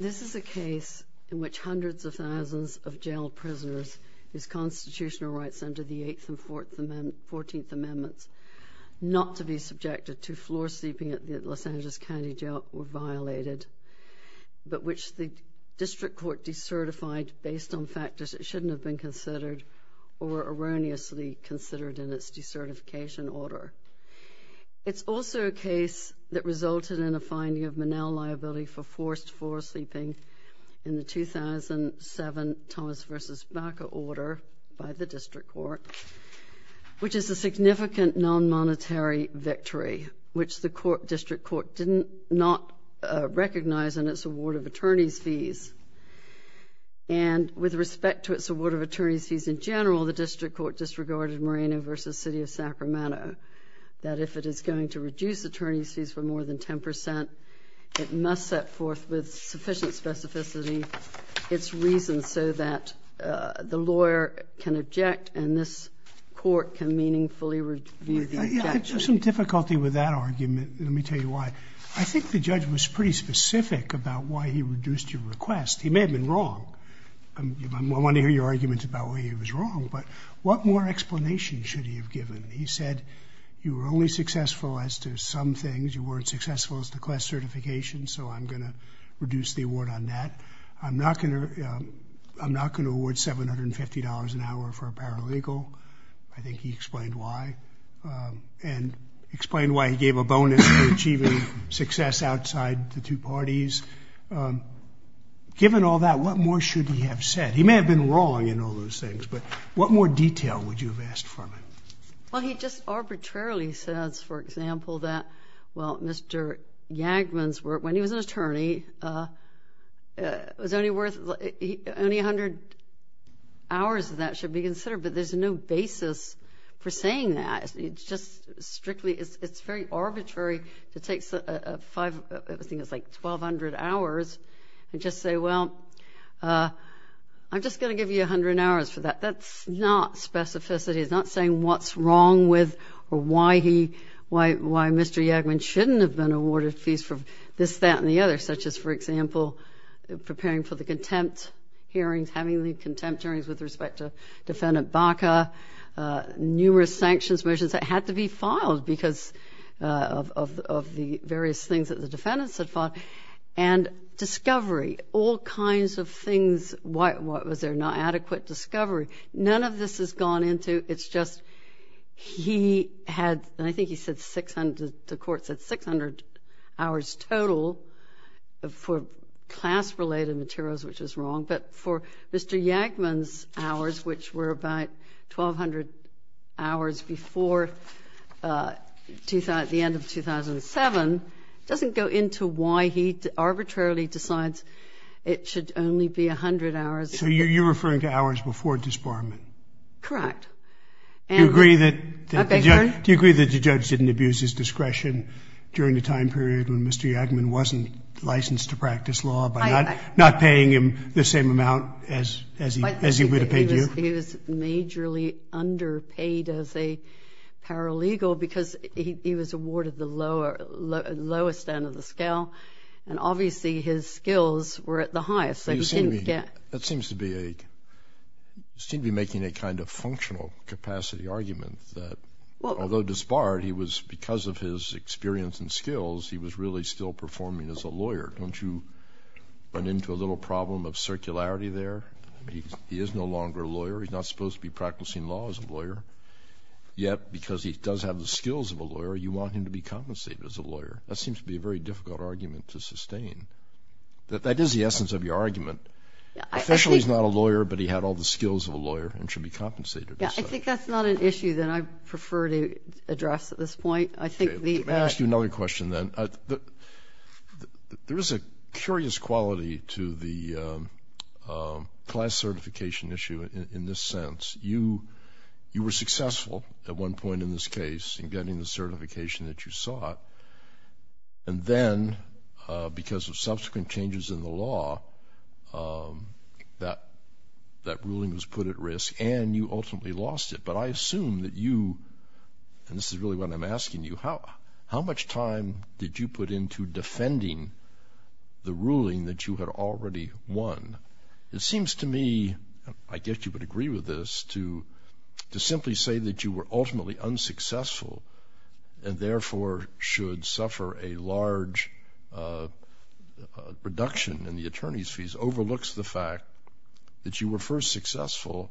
This is a case in which hundreds of thousands of jailed prisoners whose constitutional rights under the Eighth and Fourteenth Amendments not to be subjected to floor-sleeping at the court based on factors that shouldn't have been considered or erroneously considered in its decertification order. It's also a case that resulted in a finding of manel liability for forced floor-sleeping in the 2007 Thomas v. Baca order by the District Court, which is a significant non-monetary victory, which the District Court did not recognize in its award of attorney's fees. And with respect to its award of attorney's fees in general, the District Court disregarded Moreno v. City of Sacramento, that if it is going to reduce attorney's fees for more than 10 percent, it must set forth with sufficient specificity its reasons so that the lawyer can object and this court can meaningfully review the objection. I have some difficulty with that argument. Let me tell you why. I think the judge was pretty specific about why he reduced your request. He may have been wrong. I want to hear your arguments about why he was wrong, but what more explanation should he have given? He said you were only successful as to some things. You weren't successful as to class certification so I'm going to reduce the award on that. I'm not going to award $750 an hour for a paralegal. I think he explained why and explained why he gave a bonus for achieving success outside the two parties. Given all that, what more should he have said? He may have been wrong in all those things, but what more detail would you have asked from him? Well, he just arbitrarily says, for example, that, well, Mr. Yagman's work, when he was an attorney, was only worth, only 100 hours of that should be considered, but there's no basis for saying that. It's just strictly, it's very arbitrary. It takes, I think it's like 1,200 hours, and just say, well, I'm just going to give you 100 hours for that. That's not specificity. It's not saying what's wrong with or why he, why Mr. Yagman shouldn't have been awarded fees for this, that, and the other, such as, for example, preparing for the contempt hearings, having the contempt hearings with respect to Defendant Baca, numerous sanctions motions that had to be filed because of the various things that the defendants had filed, and discovery, all kinds of things, what was there, not adequate discovery. None of this has gone into, it's just he had, and I think he said 600, the court said 600 hours total for class-related materials, which is wrong, but for Mr. Yagman's hours, which were about 1,200 hours before the end of 2007, doesn't go into why he arbitrarily decides it should only be 100 hours. So you're referring to hours before disbarment? Correct. Do you agree that the judge didn't abuse his discretion during the time period when Mr. Yagman wasn't licensed to practice law by not paying him the same amount as he would have paid you? He was majorly underpaid as a paralegal because he was awarded the lowest end of the scale, and obviously his skills were at the highest, so he didn't get... That seems to be a, seems to be making a kind of functional capacity argument that, although disbarred, he was, because of his experience and skills, he was really still performing as a lawyer. Don't you run into a little problem of circularity there? He is no longer a lawyer, he's not supposed to be practicing law as a lawyer, yet because he does have the skills of a lawyer, you want him to be compensated as a lawyer. That seems to be a very difficult argument to sustain. That is the essence of your argument. Officially he's not a lawyer, but he had all the skills of a lawyer and should be compensated. Yeah, I think that's not an issue that I prefer to address at this point. I think the... Let me ask you another question then. There is a curious quality to the class certification issue in this sense. You were successful at one point in this case in getting the certification that you sought, and then because of subsequent changes in the law, that ruling was put at a loss. I assume that you, and this is really what I'm asking you, how much time did you put into defending the ruling that you had already won? It seems to me, I guess you would agree with this, to simply say that you were ultimately unsuccessful and therefore should suffer a large reduction in the attorney's fees overlooks the fact that you were first successful,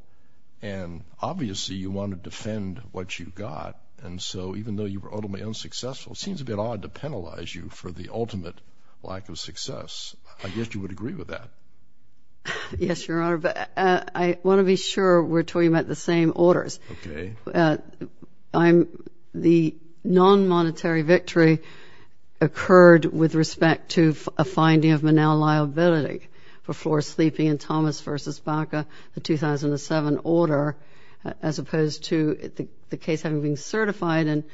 and obviously you want to defend what you got, and so even though you were ultimately unsuccessful, it seems a bit odd to penalize you for the ultimate lack of success. I guess you would agree with that. Yes, Your Honor, but I want to be sure we're talking about the same orders. Okay. The non-monetary victory occurred with respect to a finding of manel liability for floor sleeping in Thomas v. Baca, the 2007 order, as opposed to the case having been certified in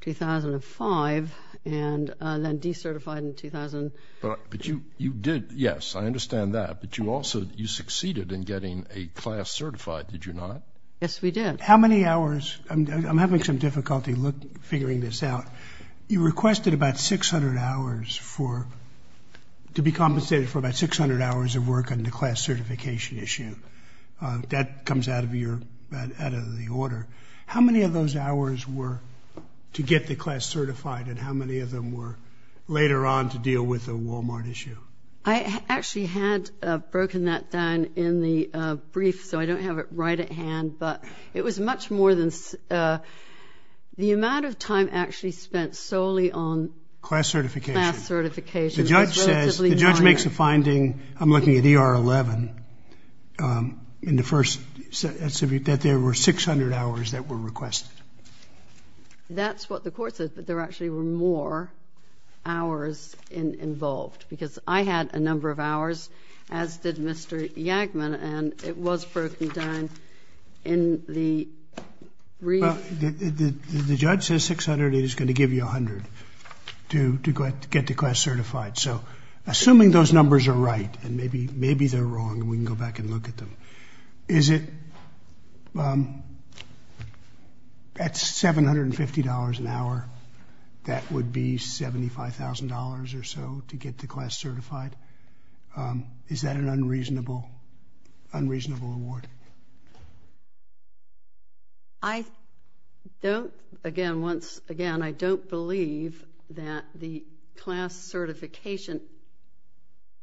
2005 and then decertified in 2000. But you did, yes, I understand that, but you also, you succeeded in getting a class certified, did you not? Yes, we did. How many hours, I'm having some difficulty figuring this out, you requested about 600 hours for, to be compensated for about 600 hours of work on the class certification issue. That comes out of your, out of the order. How many of those hours were to get the class certified and how many of them were later on to deal with the Walmart issue? I actually had broken that down in the brief, so I don't have it right at hand, but it was much more than, the amount of time actually spent solely on class certification. The judge says, the judge makes a finding I'm looking at ER 11, in the first, that there were 600 hours that were requested. That's what the court says, but there actually were more hours involved, because I had a number of hours, as did Mr. Yagman, and it was broken down in the brief. The judge says 600, he's going to give you 100 to get the class certified, so assuming those numbers are right, and maybe, maybe they're wrong, and we can go back and look at them, is it, at $750 an hour, that would be $75,000 or so to get the class certified? Is that an unreasonable, unreasonable award? I don't, again, once again, I don't believe that the class certification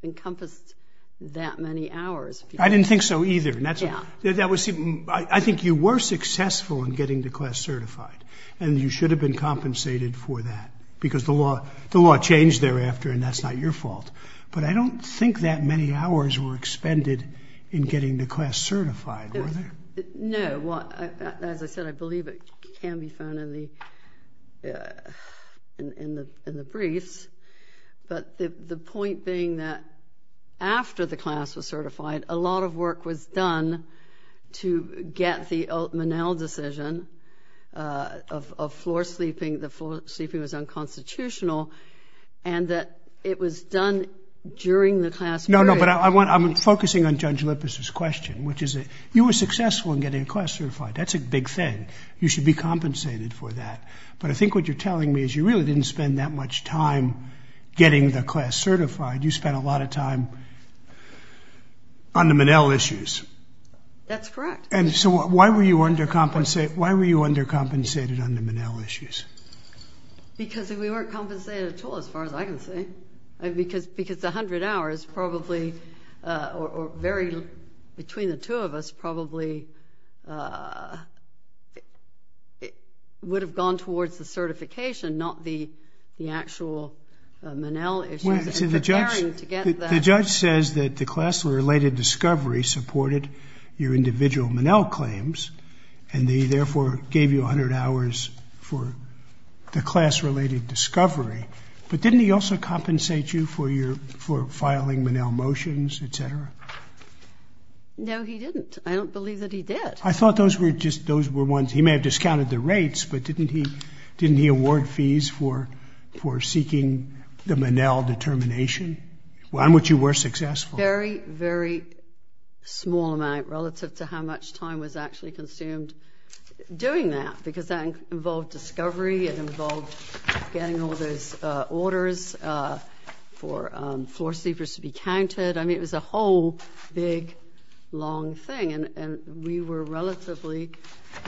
encompassed that many hours. I didn't think so either, and that's, that was, I think you were successful in getting the class certified, and you should have been compensated for that, because the law changed thereafter and that's not your fault, but I don't think that many hours were expended in getting the class certified, were there? No, well, as I said, I believe it can be found in the, in the briefs, but the point being that after the class was certified, a lot of work was done to get the Monell decision of floor sleeping, the floor sleeping was unconstitutional, and that it was done during the class period. No, no, but I want, I'm focusing on Judge Lippis' question, which is that you were successful in getting the class certified, that's a big thing, you should be compensated for that, but I think what you're telling me is you really didn't spend that much time getting the class certified, you spent a lot of time on the Monell issues. That's correct. And so why were you undercompensated, why were you undercompensated on the Monell issues? Because we weren't compensated at all, as far as I can see, because, because 100 hours probably, or very, between the two of us, probably would have gone towards the certification, not the, the actual Monell issues, and preparing to get that. The judge says that the class-related discovery supported your individual Monell claims, and they therefore gave you 100 hours for the class-related discovery, but didn't he also award fees for doing Monell motions, et cetera? No, he didn't. I don't believe that he did. I thought those were just, those were ones, he may have discounted the rates, but didn't he, didn't he award fees for, for seeking the Monell determination, on which you were successful? Very, very small amount, relative to how much time was actually consumed doing that, because that involved discovery, it involved getting all those orders for floor sleepers to be counted. I mean, it was a whole big, long thing, and, and we were relatively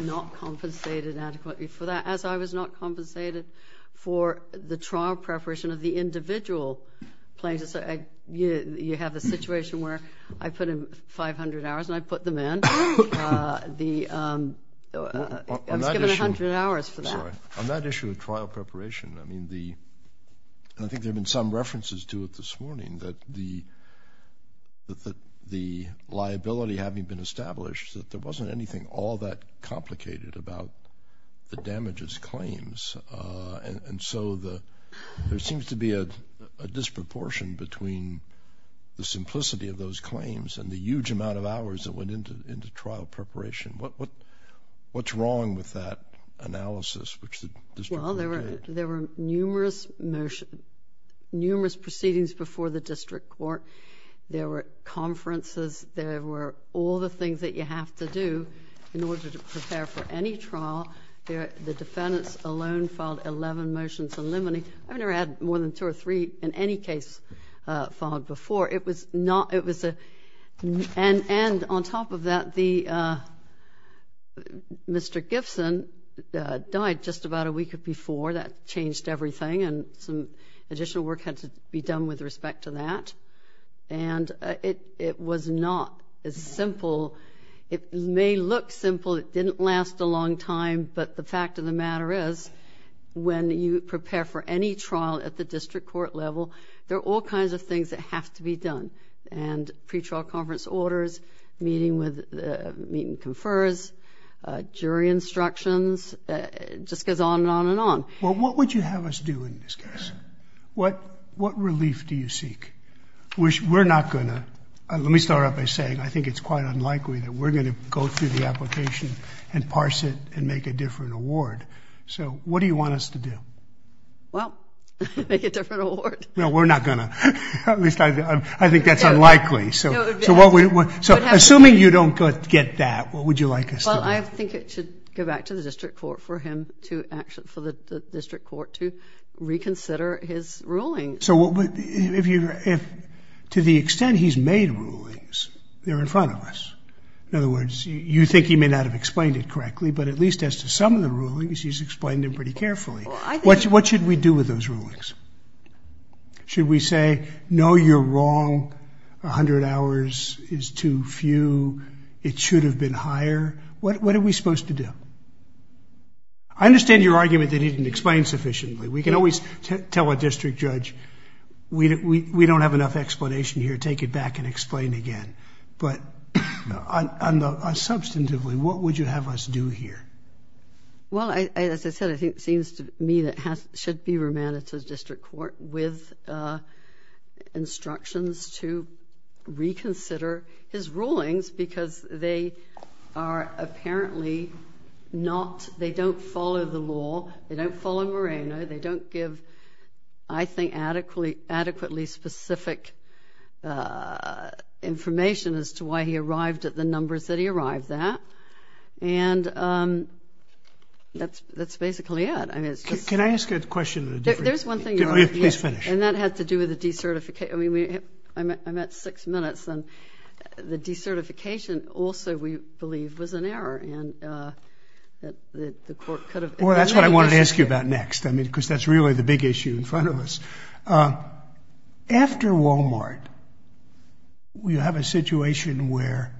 not compensated adequately for that, as I was not compensated for the trial preparation of the individual plaintiffs. I, you, you have a situation where I put in 500 hours, and I put them in, the, I was given 100 hours for that. On that issue of trial preparation, I mean, the, I think there have been some references to it this morning, that the, that the liability having been established, that there wasn't anything all that complicated about the damages claims, and, and so the, there seems to be a, a disproportion between the simplicity of those claims and the huge amount of hours that went into, into trial preparation. What, what, what's wrong with that analysis, which the district did? Well, there were, there were numerous motion, numerous proceedings before the district court. There were conferences. There were all the things that you have to do in order to prepare for any trial. There, the defendants alone filed 11 motions in limine. I've never had more than two or three in any case filed before. It was not, it was a, and, and on top of that, the, Mr. Gibson died just about a week before. That changed everything, and some additional work had to be done with respect to that, and it, it was not as simple. It may look simple. It didn't last a long time, but the fact of the matter is, when you prepare for any trial at the district court level, there are all kinds of things that have to be done, and pre-trial conference orders, meeting with, meeting confers, jury instructions, it just goes on and on and on. Well, what would you have us do in this case? What, what relief do you seek? We're, we're not going to, let me start out by saying, I think it's quite unlikely that we're going to go through the application and parse it and make a different award. So, what do you want us to do? Well, make a different award. Well, we're not going to. At least, I, I think that's unlikely. So, so what would, so assuming you don't get that, what would you like us to do? Well, I think it should go back to the district court for him to, for the district court to reconsider his ruling. So what would, if you, if, to the extent he's made rulings, they're in front of us. In other words, you think he may not have explained it correctly, but at least as to some of the judge's rulings. Should we say, no, you're wrong. A hundred hours is too few. It should have been higher. What, what are we supposed to do? I understand your argument that he didn't explain sufficiently. We can always tell a district judge, we, we, we don't have enough explanation here. Take it back and explain again. But on, on the, on substantively, what would you have us do here? Well, I, as I said, I think it seems to me that has, should be remanded to the district court with instructions to reconsider his rulings because they are apparently not, they don't follow the law. They don't follow Moreno. They don't give, I think, adequately, adequately specific information as to why he arrived at the numbers that he arrived at. And, and that's, that's basically it. I mean, it's just, can I ask a question? There's one thing that has to do with the decertification. I mean, I'm at six minutes and the decertification also we believe was an error and that the court could have, well, that's what I wanted to ask you about next. I mean, cause that's really the big issue in front of us. After Walmart, we have a situation where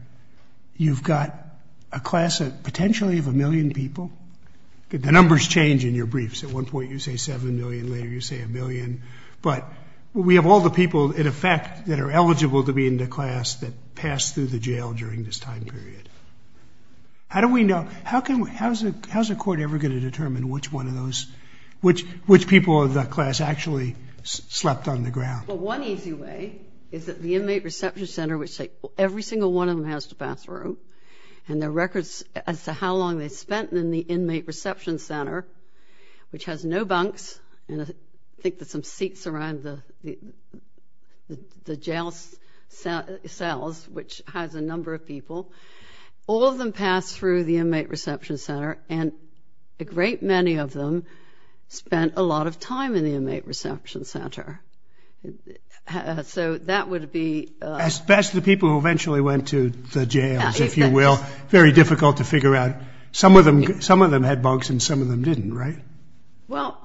you've got a class of potentially of a million dollars in people. The numbers change in your briefs. At one point you say 7 million, later you say a million, but we have all the people in effect that are eligible to be in the class that passed through the jail during this time period. How do we know, how can we, how's it, how's the court ever going to determine which one of those, which, which people of the class actually slept on the ground? Well, one easy way is that the inmate reception center, which every single one of them has to pass through and the records as to how long they spent in the inmate reception center, which has no bunks. And I think that some seats around the, the, the jail cells, which has a number of people, all of them pass through the inmate reception center and a great many of them spent a lot of time in the inmate reception center. So that would be... That's the people who eventually went to the jails, if you will. Very difficult to figure out. Some of them, some of them had bunks and some of them didn't, right? Well,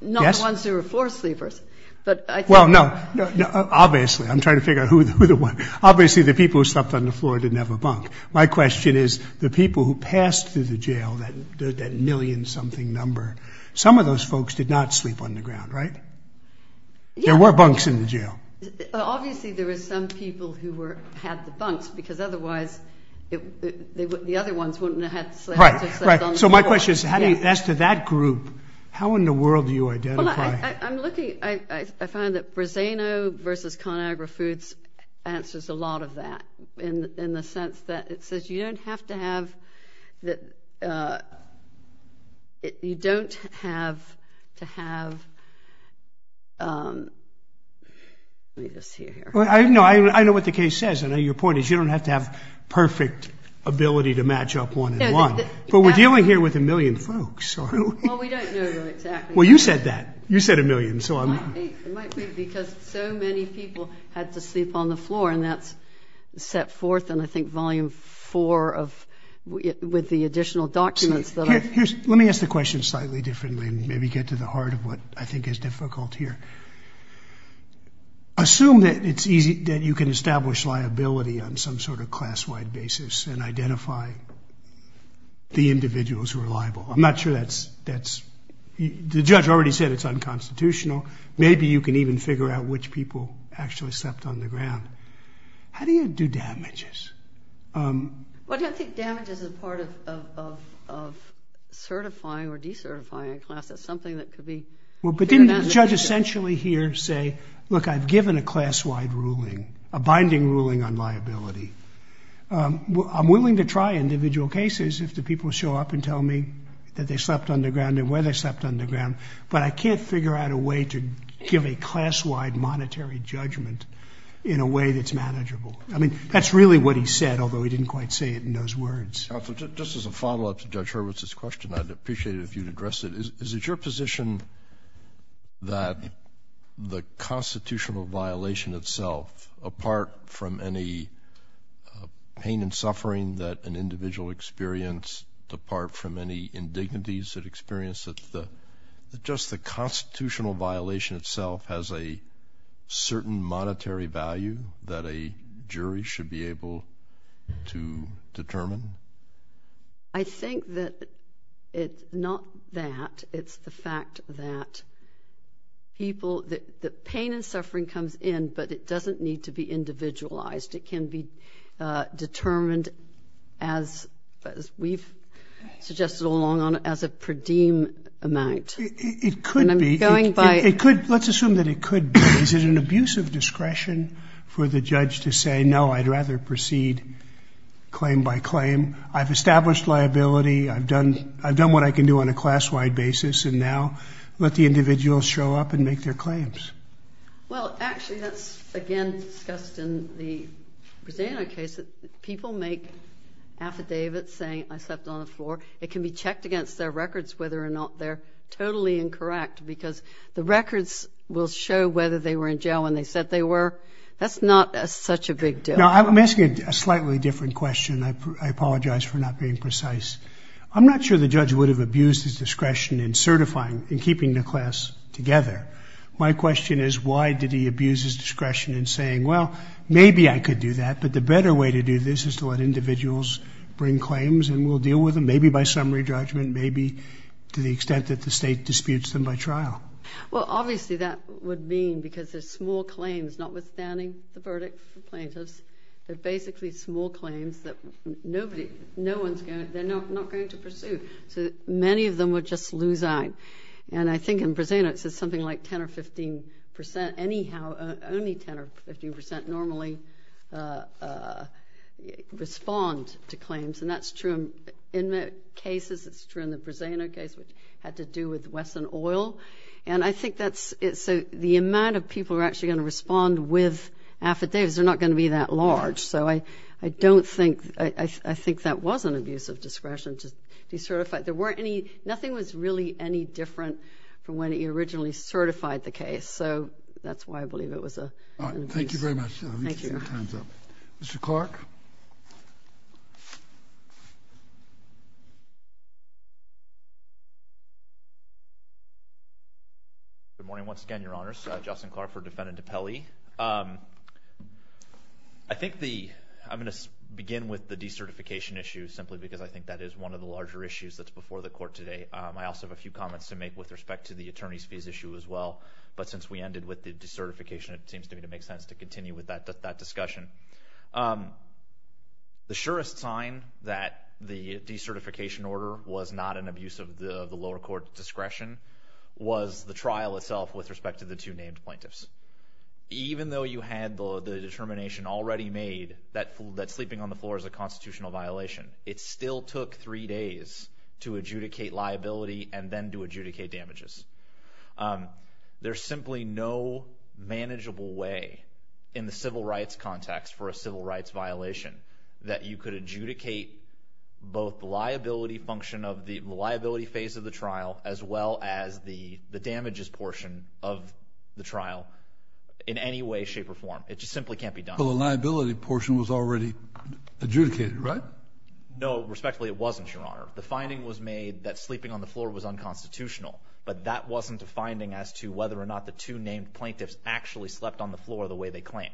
not the ones who were floor sleepers, but I think... Well, no, no, obviously, I'm trying to figure out who the, who the one, obviously the people who slept on the floor didn't have a bunk. My question is the people who passed through the jail, that, that million something number, some of those folks did not sleep on the ground, right? There were bunks in the jail. Obviously, there were some people who were, had the bunks because otherwise, the other ones wouldn't have had to sleep on the floor. So my question is, as to that group, how in the world do you identify? I'm looking, I find that Brezzano versus ConAgra Foods answers a lot of that in, in the sense that it says you don't have to have, you don't have to have, you don't have to have, you know, I know what the case says. I know your point is you don't have to have perfect ability to match up one and one, but we're dealing here with a million folks. Well, we don't know exactly. Well, you said that, you said a million, so I'm... It might be, it might be because so many people had to sleep on the floor and that's set forth in I think volume four of, with the additional documents that I... Here's, let me ask the question slightly differently, maybe get to the heart of what I think is difficult here. Assume that it's easy, that you can establish liability on some sort of class-wide basis and identify the individuals who are liable. I'm not sure that's, that's, the judge already said it's unconstitutional. Maybe you can even figure out which people actually slept on the ground. How do you do damages? Well, I don't think damages is a part of, of, of certifying or decertifying a class. It's something that could be... Well, but didn't the judge essentially here say, look, I've given a class-wide ruling, a binding ruling on liability. I'm willing to try individual cases if the people show up and tell me that they slept on the ground and where they slept on the ground, but I can't figure out a way to give a class-wide monetary judgment in a way that's manageable. I mean, that's really what he said, although he didn't quite say it in those words. Counselor, just as a follow-up to Judge Hurwitz's question, I'd appreciate it if you'd address it. Is it your position that the constitutional violation itself, apart from any pain and suffering that an individual experienced, apart from any indignities that experience it, that just the constitutional violation itself has a certain monetary value that a jury should be able to determine? I think that it's not that. It's the fact that people, that the pain and suffering comes in, but it doesn't need to be individualized. It can be determined as, as we've suggested all along, as a per diem amount. It could be. And I'm going by... It could, let's assume that it could be. Is it an abuse of discretion for the judge to say, no, I'd rather proceed claim by claim? I've established liability. I've done, I've done what I can do on a class-wide basis, and now let the individual show up and make their claims. Well, actually, that's, again, discussed in the Brazilian case, that people make affidavits saying, I slept on the floor. It can be checked against their records whether or not they're totally incorrect, because the records will show whether they were in jail when they said they were. That's not such a big deal. Now, I'm asking a slightly different question. I apologize for not being precise. I'm not sure the judge would have abused his discretion in certifying, in keeping the class together. My question is, why did he abuse his discretion in saying, well, maybe I could do that, but the better way to do this is to let individuals bring claims, and we'll deal with them, maybe by summary judgment, maybe to the extent that the state disputes them by trial. Well, obviously, that would mean, because there's small claims, notwithstanding the verdict for plaintiffs, they're basically small claims that nobody, no one's going to, they're not going to pursue. So, many of them would just lose out, and I think in Brazil, it says something like 10 or 15 percent, anyhow, only 10 or 15 percent normally respond to claims, and that's true in the cases. It's true in the Brazilian case, which had to do with Wesson Oil, and I think that's, so the amount of people who are actually going to respond with affidavits, they're not going to be that large. So, I don't think, I think that was an abuse of discretion to decertify. There weren't any, nothing was really any different from when he originally certified the case. So, that's why I believe it was an abuse. Thank you very much. Thank you. Mr. Clark. Good morning, once again, Your Honors. Justin Clark for Defendant DiPelli. I think the, I'm going to begin with the decertification issue, simply because I think that is one of the larger issues that's before the Court today. I also have a few comments to make with respect to the attorney's fees issue as well, but since we ended with the decertification, it seems to me to make sense to continue with that discussion. The surest sign that the decertification order was not an abuse of the lower court's discretion was the trial itself with respect to the two named plaintiffs. Even though you had the determination already made that sleeping on the floor is a constitutional violation, it still took three days to adjudicate liability and then to adjudicate damages. Um, there's simply no manageable way in the civil rights context for a civil rights violation that you could adjudicate both the liability function of the liability phase of the trial as well as the damages portion of the trial in any way, shape, or form. It just simply can't be done. Well, the liability portion was already adjudicated, right? No, respectfully, it wasn't, Your Honor. The finding was made that sleeping on the floor was unconstitutional, but that wasn't a finding as to whether or not the two named plaintiffs actually slept on the floor the way they claimed.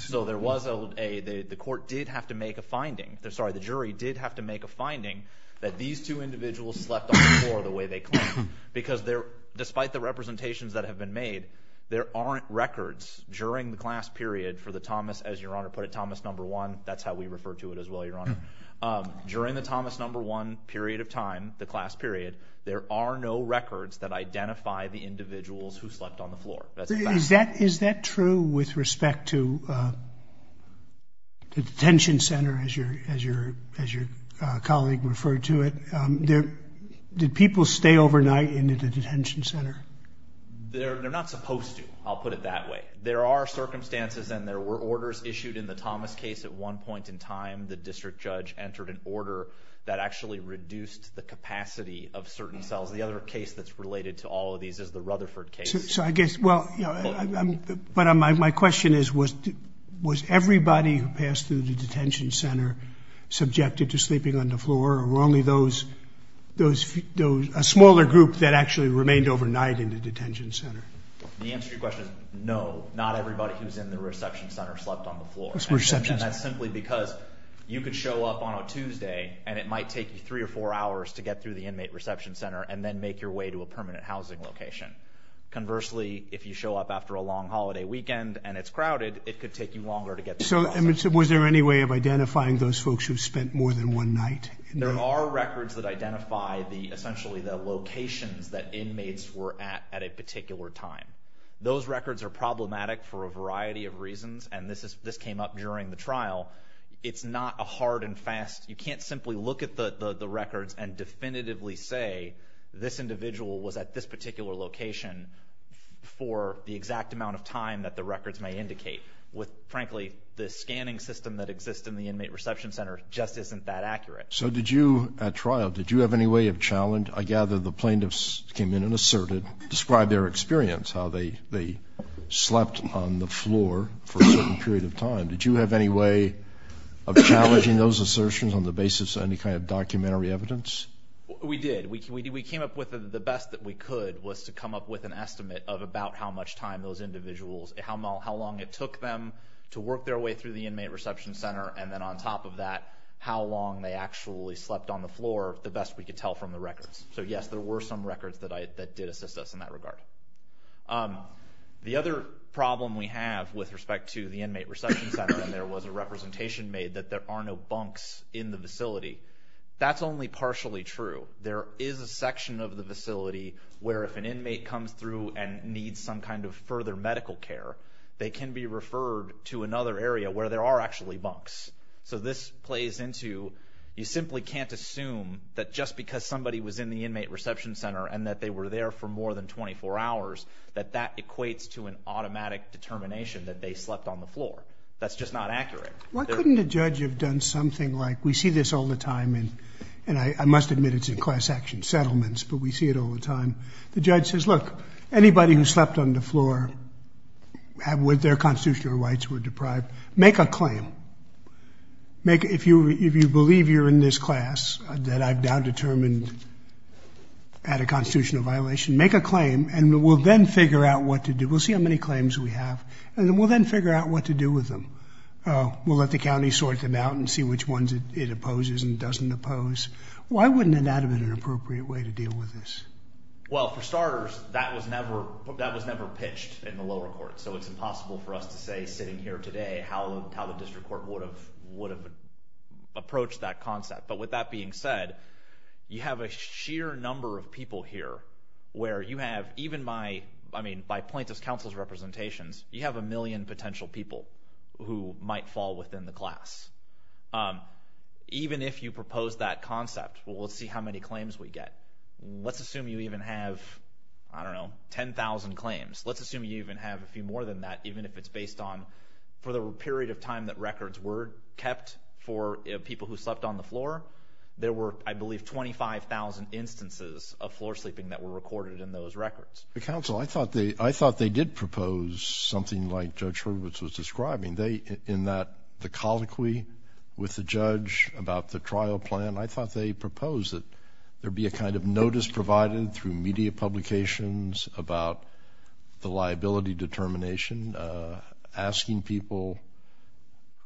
So there was a, the court did have to make a finding, sorry, the jury did have to make a finding that these two individuals slept on the floor the way they claimed because despite the representations that have been made, there aren't records during the class period for the Thomas, as Your Honor put it, Thomas number one, that's how we refer to it as well, Your Honor. During the Thomas number one period of time, the class period, there are no records that identify the individuals who slept on the floor. Is that true with respect to the detention center as your colleague referred to it? Did people stay overnight in the detention center? They're not supposed to, I'll put it that way. There are circumstances and there were orders issued in the Thomas case at one point in time, the district judge entered an order that actually reduced the capacity of certain cells. The other case that's related to all of these is the Rutherford case. So I guess, well, you know, but my question is, was everybody who passed through the detention center subjected to sleeping on the floor or were only those, those, those, a smaller group that actually remained overnight in the detention center? The answer to your question is no, not everybody who's in the reception center slept on the floor. That's simply because you could show up on a Tuesday and it might take you three or four hours to get through the inmate reception center and then make your way to a permanent housing location. Conversely, if you show up after a long holiday weekend and it's crowded, it could take you longer to get there. So was there any way of identifying those folks who spent more than one night? There are records that identify the, essentially the locations that inmates were at, at a particular time. Those records are problematic for a variety of reasons. And this is, this came up during the trial. It's not a hard and fast, you can't simply look at the records and definitively say this individual was at this particular location for the exact amount of time that the records may indicate. With, frankly, the scanning system that exists in the inmate reception center just isn't that accurate. So did you, at trial, did you have any way of challenge, I gather the plaintiffs came in and asserted, described their experience, how they, slept on the floor for a certain period of time. Did you have any way of challenging those assertions on the basis of any kind of documentary evidence? We did. We came up with the best that we could was to come up with an estimate of about how much time those individuals, how long it took them to work their way through the inmate reception center, and then on top of that, how long they actually slept on the floor, the best we could tell from the records. So yes, there were some records that did assist us in that regard. The other problem we have with respect to the inmate reception center, and there was a representation made that there are no bunks in the facility, that's only partially true. There is a section of the facility where if an inmate comes through and needs some kind of further medical care, they can be referred to another area where there are actually bunks. So this plays into, you simply can't assume that just because somebody was in the inmate reception center and that they were there for more than 24 hours, that that equates to an automatic determination that they slept on the floor. That's just not accurate. Why couldn't a judge have done something like, we see this all the time, and I must admit it's in class action settlements, but we see it all the time. The judge says, look, anybody who slept on the floor with their constitutional rights were deprived, make a claim. If you believe you're in this class, that I've now determined had a constitutional violation, make a claim and we'll then figure out what to do. We'll see how many claims we have, and then we'll then figure out what to do with them. We'll let the county sort them out and see which ones it opposes and doesn't oppose. Why wouldn't that have been an appropriate way to deal with this? Well, for starters, that was never pitched in the lower court, so it's would have approached that concept. But with that being said, you have a sheer number of people here where you have, even by plaintiff's counsel's representations, you have a million potential people who might fall within the class. Even if you propose that concept, we'll see how many claims we get. Let's assume you even have, I don't know, 10,000 claims. Let's assume you even have a For the period of time that records were kept for people who slept on the floor, there were, I believe, 25,000 instances of floor sleeping that were recorded in those records. Counsel, I thought they did propose something like Judge Hurwitz was describing. In that, the colloquy with the judge about the trial plan, I thought they proposed that there be a kind of notice provided through media publications about the liability determination asking people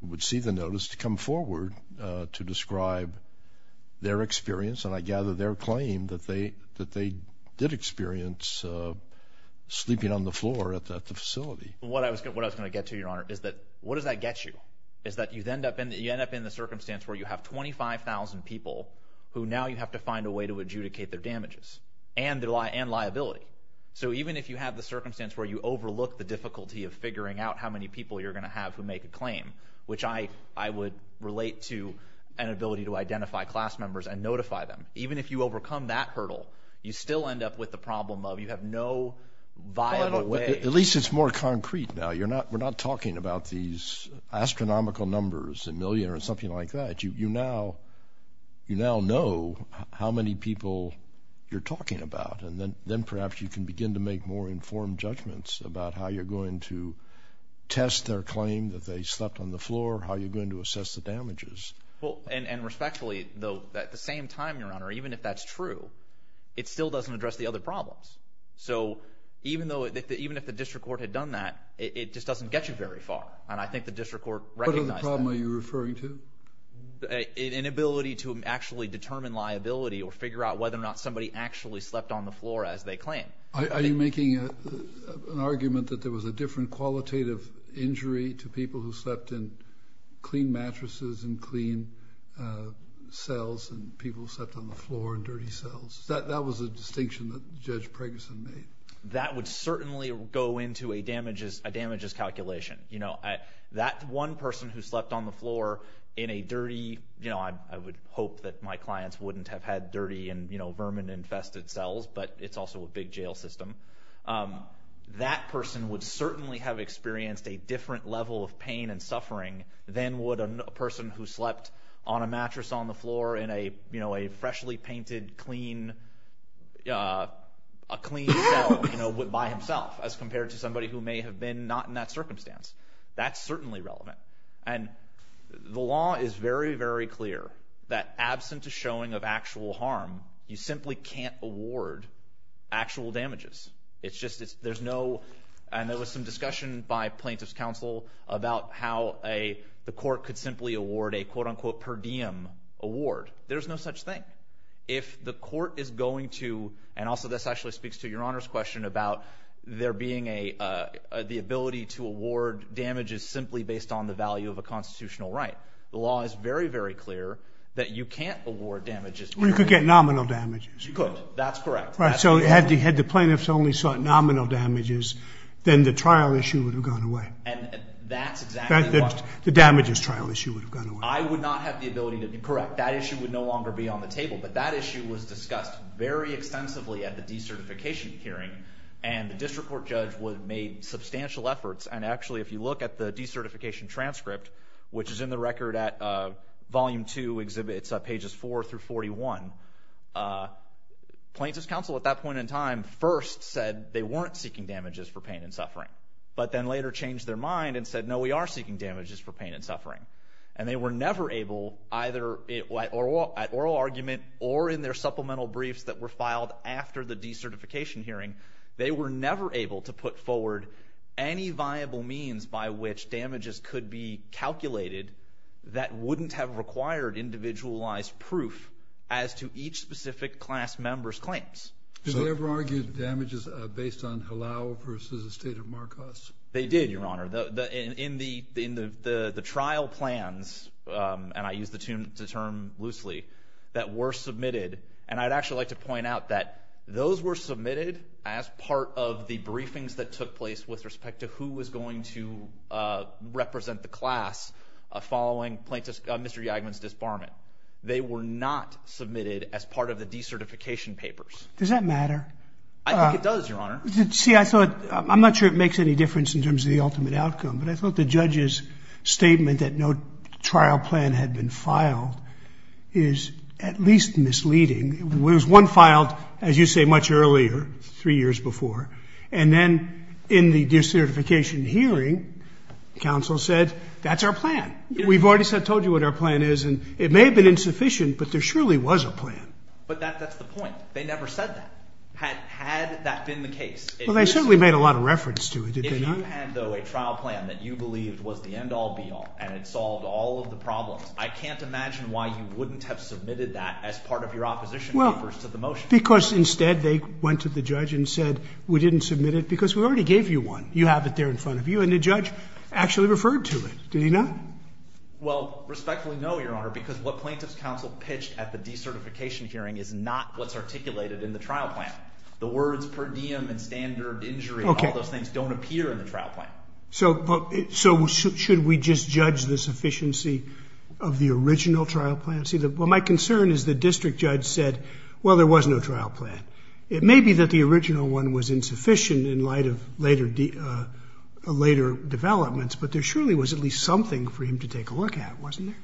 who would see the notice to come forward to describe their experience, and I gather their claim that they did experience sleeping on the floor at the facility. What I was going to get to, Your Honor, is that what does that get you? Is that you end up in the circumstance where you have 25,000 people who now you have to find a way to adjudicate their damages and liability. So even if you have the circumstance where you overlook the difficulty of figuring out how many people you're going to have who make a claim, which I would relate to an ability to identify class members and notify them, even if you overcome that hurdle, you still end up with the problem of you have no viable way. At least it's more concrete now. We're not talking about these astronomical numbers, a million or something like that. You now know how many people you're talking about, and then perhaps you can begin to make more informed judgments about how you're going to test their claim that they slept on the floor, how you're going to assess the damages. Well, and respectfully, though, at the same time, Your Honor, even if that's true, it still doesn't address the other problems. So even if the district court had done that, it just doesn't get you very far, and I think the district court recognized that. What other problem are you referring to? An inability to actually determine liability or figure out whether or not somebody actually slept on the floor as they claim. Are you making an argument that there was a different qualitative injury to people who slept in clean mattresses and clean cells and people slept on the floor in dirty cells? That was a distinction that Judge Preggerson made. That would certainly go into a damages calculation. That one person who slept on the floor in a dirty, I would hope that my clients wouldn't have had dirty and vermin-infested cells, but it's also a big jail system. That person would certainly have experienced a different level of pain and suffering than would a person who slept on a mattress on the floor in a freshly painted, clean cell by himself as compared to somebody who may have been not in that circumstance. That's certainly relevant. And the law is very, very clear that absent a showing of actual harm, you simply can't award actual damages. There was some discussion by plaintiff's counsel about how the court could simply award a, quote-unquote, per diem award. There's no such thing. If the court is going to, and also this actually speaks to your Honor's question about the ability to award damages simply based on the value of a constitutional right. The law is very, very clear that you can't award damages. Or you could get nominal damages. You could. That's correct. Right. So had the plaintiffs only sought nominal damages, then the trial issue would have gone away. And that's exactly what- The damages trial issue would have gone away. I would not have the ability to be correct. That issue would no longer be on the table, but that issue was discussed very extensively at the decertification hearing, and the district court judge made substantial efforts. And actually, if you look at the decertification transcript, which is in the record at Volume 2, Exhibits Pages 4 through 41, plaintiff's counsel at that point in time first said they weren't seeking damages for pain and suffering, but then later changed their mind and said, no, we are seeking damages for pain and suffering. And they were never able, either at oral argument or in their supplemental briefs that were filed after the decertification hearing, they were never able to put forward any viable means by which damages could be calculated that wouldn't have required individualized proof as to each specific class member's claims. Did they ever argue damages based on halal versus the state of Marcos? They did, Your Honor. In the trial plans, and I use the term loosely, that were submitted, and I'd actually like to point out that those were submitted as part of the briefings that represent the class following Mr. Yagaman's disbarment. They were not submitted as part of the decertification papers. Does that matter? I think it does, Your Honor. See, I'm not sure it makes any difference in terms of the ultimate outcome, but I thought the judge's statement that no trial plan had been filed is at least misleading. One filed, as you say, much earlier, three years before, and then in the decertification hearing, counsel said, that's our plan. We've already told you what our plan is, and it may have been insufficient, but there surely was a plan. But that's the point. They never said that. Had that been the case... Well, they certainly made a lot of reference to it. If you had, though, a trial plan that you believed was the end-all, be-all, and it solved all of the problems, I can't imagine why you wouldn't have submitted that as part of your opposition papers to the motion. Because instead, they went to the judge and said, we didn't submit it because we already gave you one. You have it there in front of you, and the judge actually referred to it. Did he not? Well, respectfully, no, Your Honor, because what plaintiff's counsel pitched at the decertification hearing is not what's articulated in the trial plan. The words per diem and standard injury and all those things don't appear in the trial plan. So should we just judge the sufficiency of the original trial plan? Well, my concern is the district judge said, well, there was no trial plan. It may be that the original one was insufficient in light of later developments, but there surely was at least something for him to take a look at, wasn't there?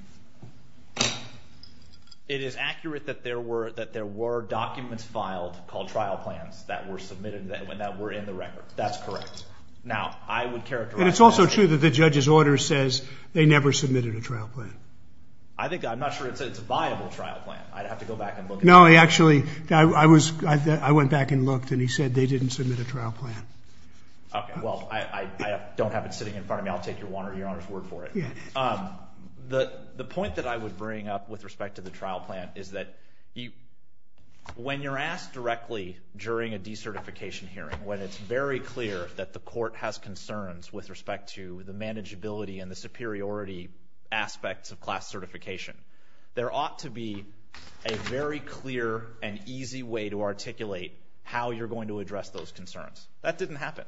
It is accurate that there were documents filed called trial plans that were submitted and that were in the record. That's correct. Now, I would characterize that as true. And it's also true that the judge's order says they never submitted a trial plan. I think, I'm not sure it's a viable trial plan. I'd have to go back and look. No, actually, I went back and looked and he said they didn't submit a trial plan. Okay, well, I don't have it sitting in front of me. I'll take Your Honor's word for it. The point that I would bring up with respect to the trial plan is that when you're asked directly during a decertification hearing, when it's very clear that the court has concerns with respect to the manageability and the superiority aspects of class certification, there ought to be a very clear and easy way to articulate how you're going to address those concerns. That didn't happen.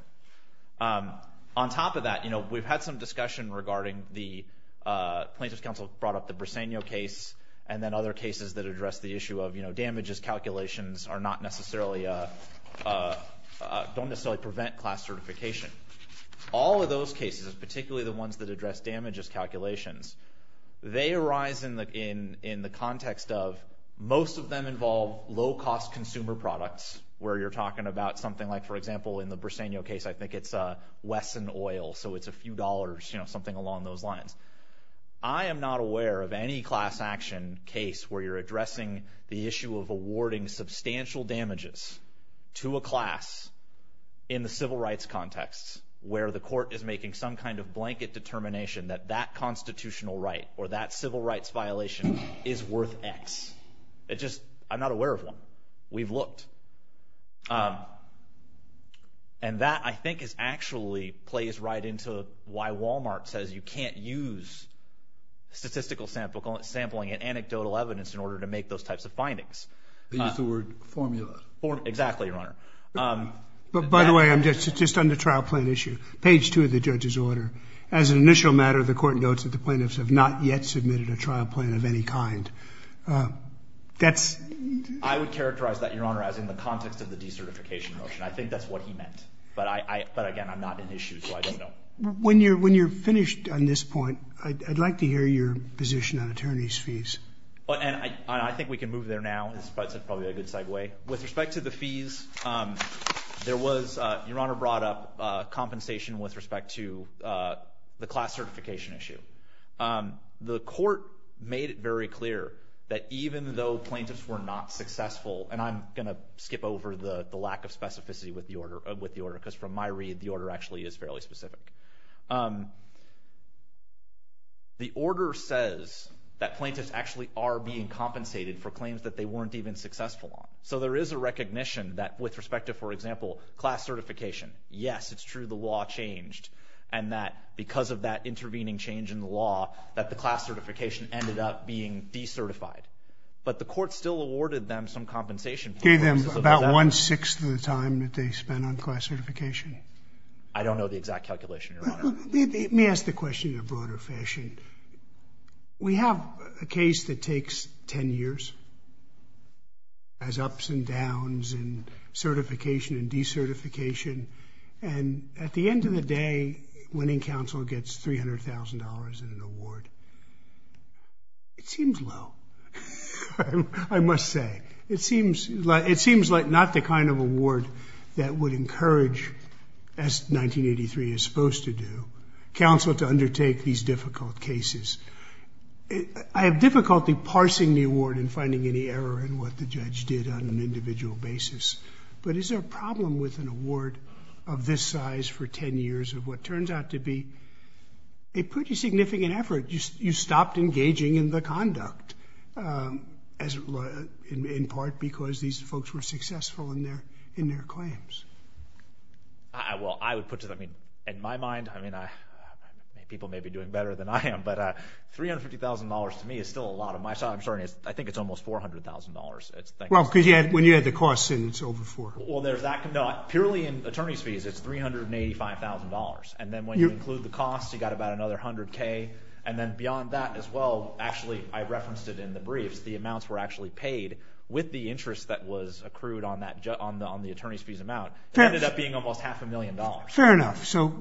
On top of that, we've had some discussion regarding the plaintiff's counsel brought up the Briseno case and then other cases that address the issue of damages calculations are not necessarily, don't necessarily prevent class certification. All of those cases, particularly the ones that address damages calculations, they arise in the context of most of them involve low-cost consumer products where you're talking about something like, for example, in the Briseno case, I think it's Wesson Oil, so it's a few dollars, something along those lines. I am not aware of any class action case where you're addressing the issue of awarding substantial damages to a class in the civil rights context where the blanket determination that that constitutional right or that civil rights violation is worth X. I'm not aware of one. We've looked. That, I think, actually plays right into why Walmart says you can't use statistical sampling and anecdotal evidence in order to make those types of findings. They use the word formula. Exactly, Your Honor. But by the way, just on the trial plan issue, page two of the judge's order, as an initial matter, the court notes that the plaintiffs have not yet submitted a trial plan of any kind. That's... I would characterize that, Your Honor, as in the context of the decertification motion. I think that's what he meant. But again, I'm not an issue, so I don't know. When you're finished on this point, I'd like to hear your position on attorney's fees. I think we can move there now. It's probably a good segue. With respect to the fees, there was... Your Honor brought up compensation with respect to the class certification issue. The court made it very clear that even though plaintiffs were not successful... And I'm going to skip over the lack of specificity with the order, because from my read, the order actually is fairly specific. The order says that plaintiffs actually are being compensated for claims that they weren't even successful on. So there is a recognition that with respect to, for example, class certification, yes, it's true, the law changed. And that because of that intervening change in the law, that the class certification ended up being decertified. But the court still awarded them some compensation... Gave them about one-sixth of the time that they spent on class certification. I don't know the exact calculation, Your Honor. Let me ask the question in a broader fashion. We have a case that takes 10 years. Has ups and downs in certification and decertification. And at the end of the day, winning counsel gets $300,000 in an award. It seems low, I must say. It seems like not the kind of award that would encourage, as 1983 is supposed to do, counsel to undertake these difficult cases. I have difficulty parsing the award and finding any error in what the judge did on an individual basis. But is there a problem with an award of this size for 10 years of what turns out to be a pretty significant effort? You stopped engaging in the conduct, in part because these folks were successful in their claims. Well, I would put it... In my mind, people may be doing better than I am, but $350,000 to me is still a lot of money. I'm sorry, I think it's almost $400,000. Well, because when you add the costs in, it's over $400,000. Well, there's that... No, purely in attorney's fees, it's $385,000. And then when you include the cost, you got about another $100,000. And then beyond that as well, actually, I referenced it in the briefs, the amounts were actually paid with the interest that was accrued on the attorney's fees amount. It ended up being almost half a million dollars. Fair enough. So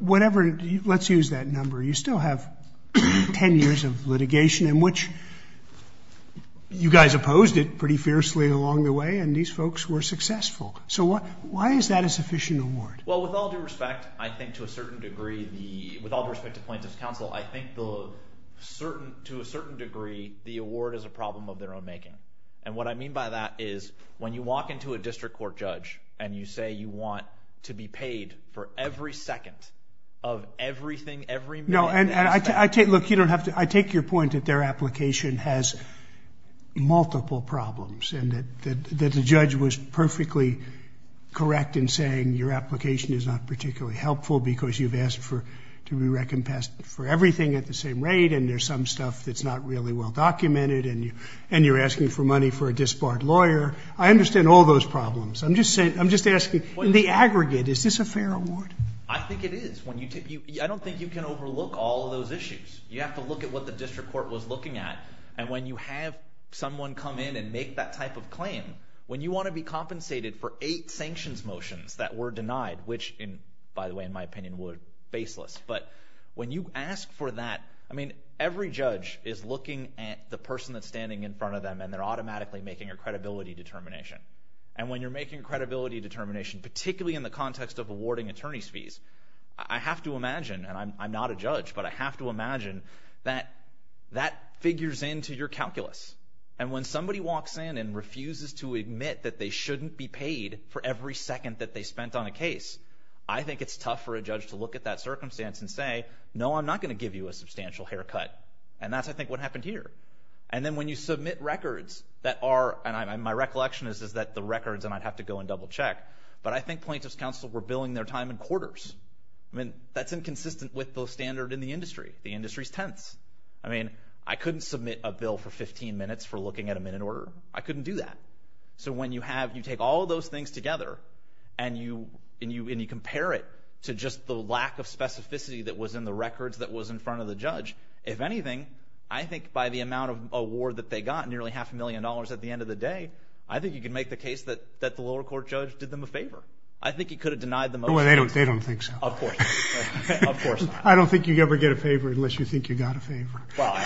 let's use that number. You still have 10 years of litigation in which you guys opposed it pretty fiercely along the way, and these folks were successful. So why is that a sufficient award? Well, with all due respect, I think to a certain degree, with all due respect to plaintiff's counsel, I think to a certain degree, the award is a problem of their own making. And what I mean by that is when you walk into a district court judge and you say you want to be paid for every second of everything, every minute... No, and look, I take your point that their application has multiple problems and that the judge was perfectly correct in saying your application is not particularly helpful because you've asked to be recompensed for everything at the same rate, and there's some stuff that's not really well-documented, and you're asking for money for a disbarred lawyer. I understand all those problems. I'm just asking, in the aggregate, is this a fair award? I think it is. I don't think you can overlook all of those issues. You have to look at what the district court was looking at. And when you have someone come in and make that type of claim, when you want to be compensated for eight sanctions motions that were denied, which, by the way, in my opinion, were baseless. But when you ask for that... I mean, every judge is looking at the person that's standing in front of them, and they're automatically making a credibility determination. And when you're making a credibility determination, particularly in the context of awarding attorney's fees, I have to imagine, and I'm not a judge, but I have to imagine that that figures into your calculus. And when somebody walks in and refuses to admit that they shouldn't be paid for every second that they spent on a case, I think it's tough for a judge to look at that circumstance and say, no, I'm not going to give you a substantial haircut. And that's, I think, what happened here. And then when you submit records that are... And my recollection is that the records, and I'd have to go and double check, but I think plaintiffs' counsel were billing their time in quarters. I mean, that's inconsistent with the standard in the industry. The industry is tense. I mean, I couldn't submit a bill for 15 minutes for looking at a minute order. I couldn't do that. So when you take all those things together and you compare it to just the lack of specificity that was in the records that was in front of the judge, if anything, I think by the amount of award that they got, nearly half a million dollars at the end of the day, I think you can make the case that the lower court judge did them a favor. I think he could have denied them... Well, they don't think so. Of course not. Of course not. I don't think you ever get a favor unless you think you got a favor. Well,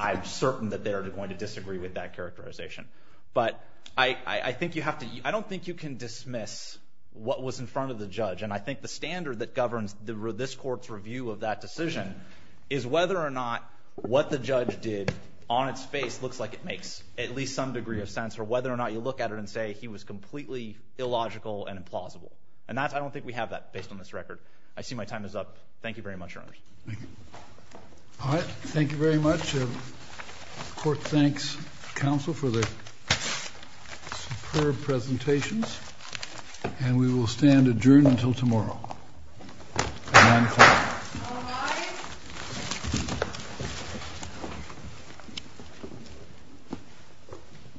I'm certain that they're going to disagree with that characterization. But I don't think you can dismiss what was in front of the judge. And I think the standard that governs this court's review of that decision is whether or not what the judge did on its face looks like it makes at least some degree of sense, or whether or not you look at it and say he was completely illogical and implausible. And I don't think we have that based on this record. I see my time is up. Thank you very much, Your Honors. Thank you. All right. Thank you very much. Court thanks counsel for the superb presentations. And we will stand adjourned until tomorrow. 9 o'clock.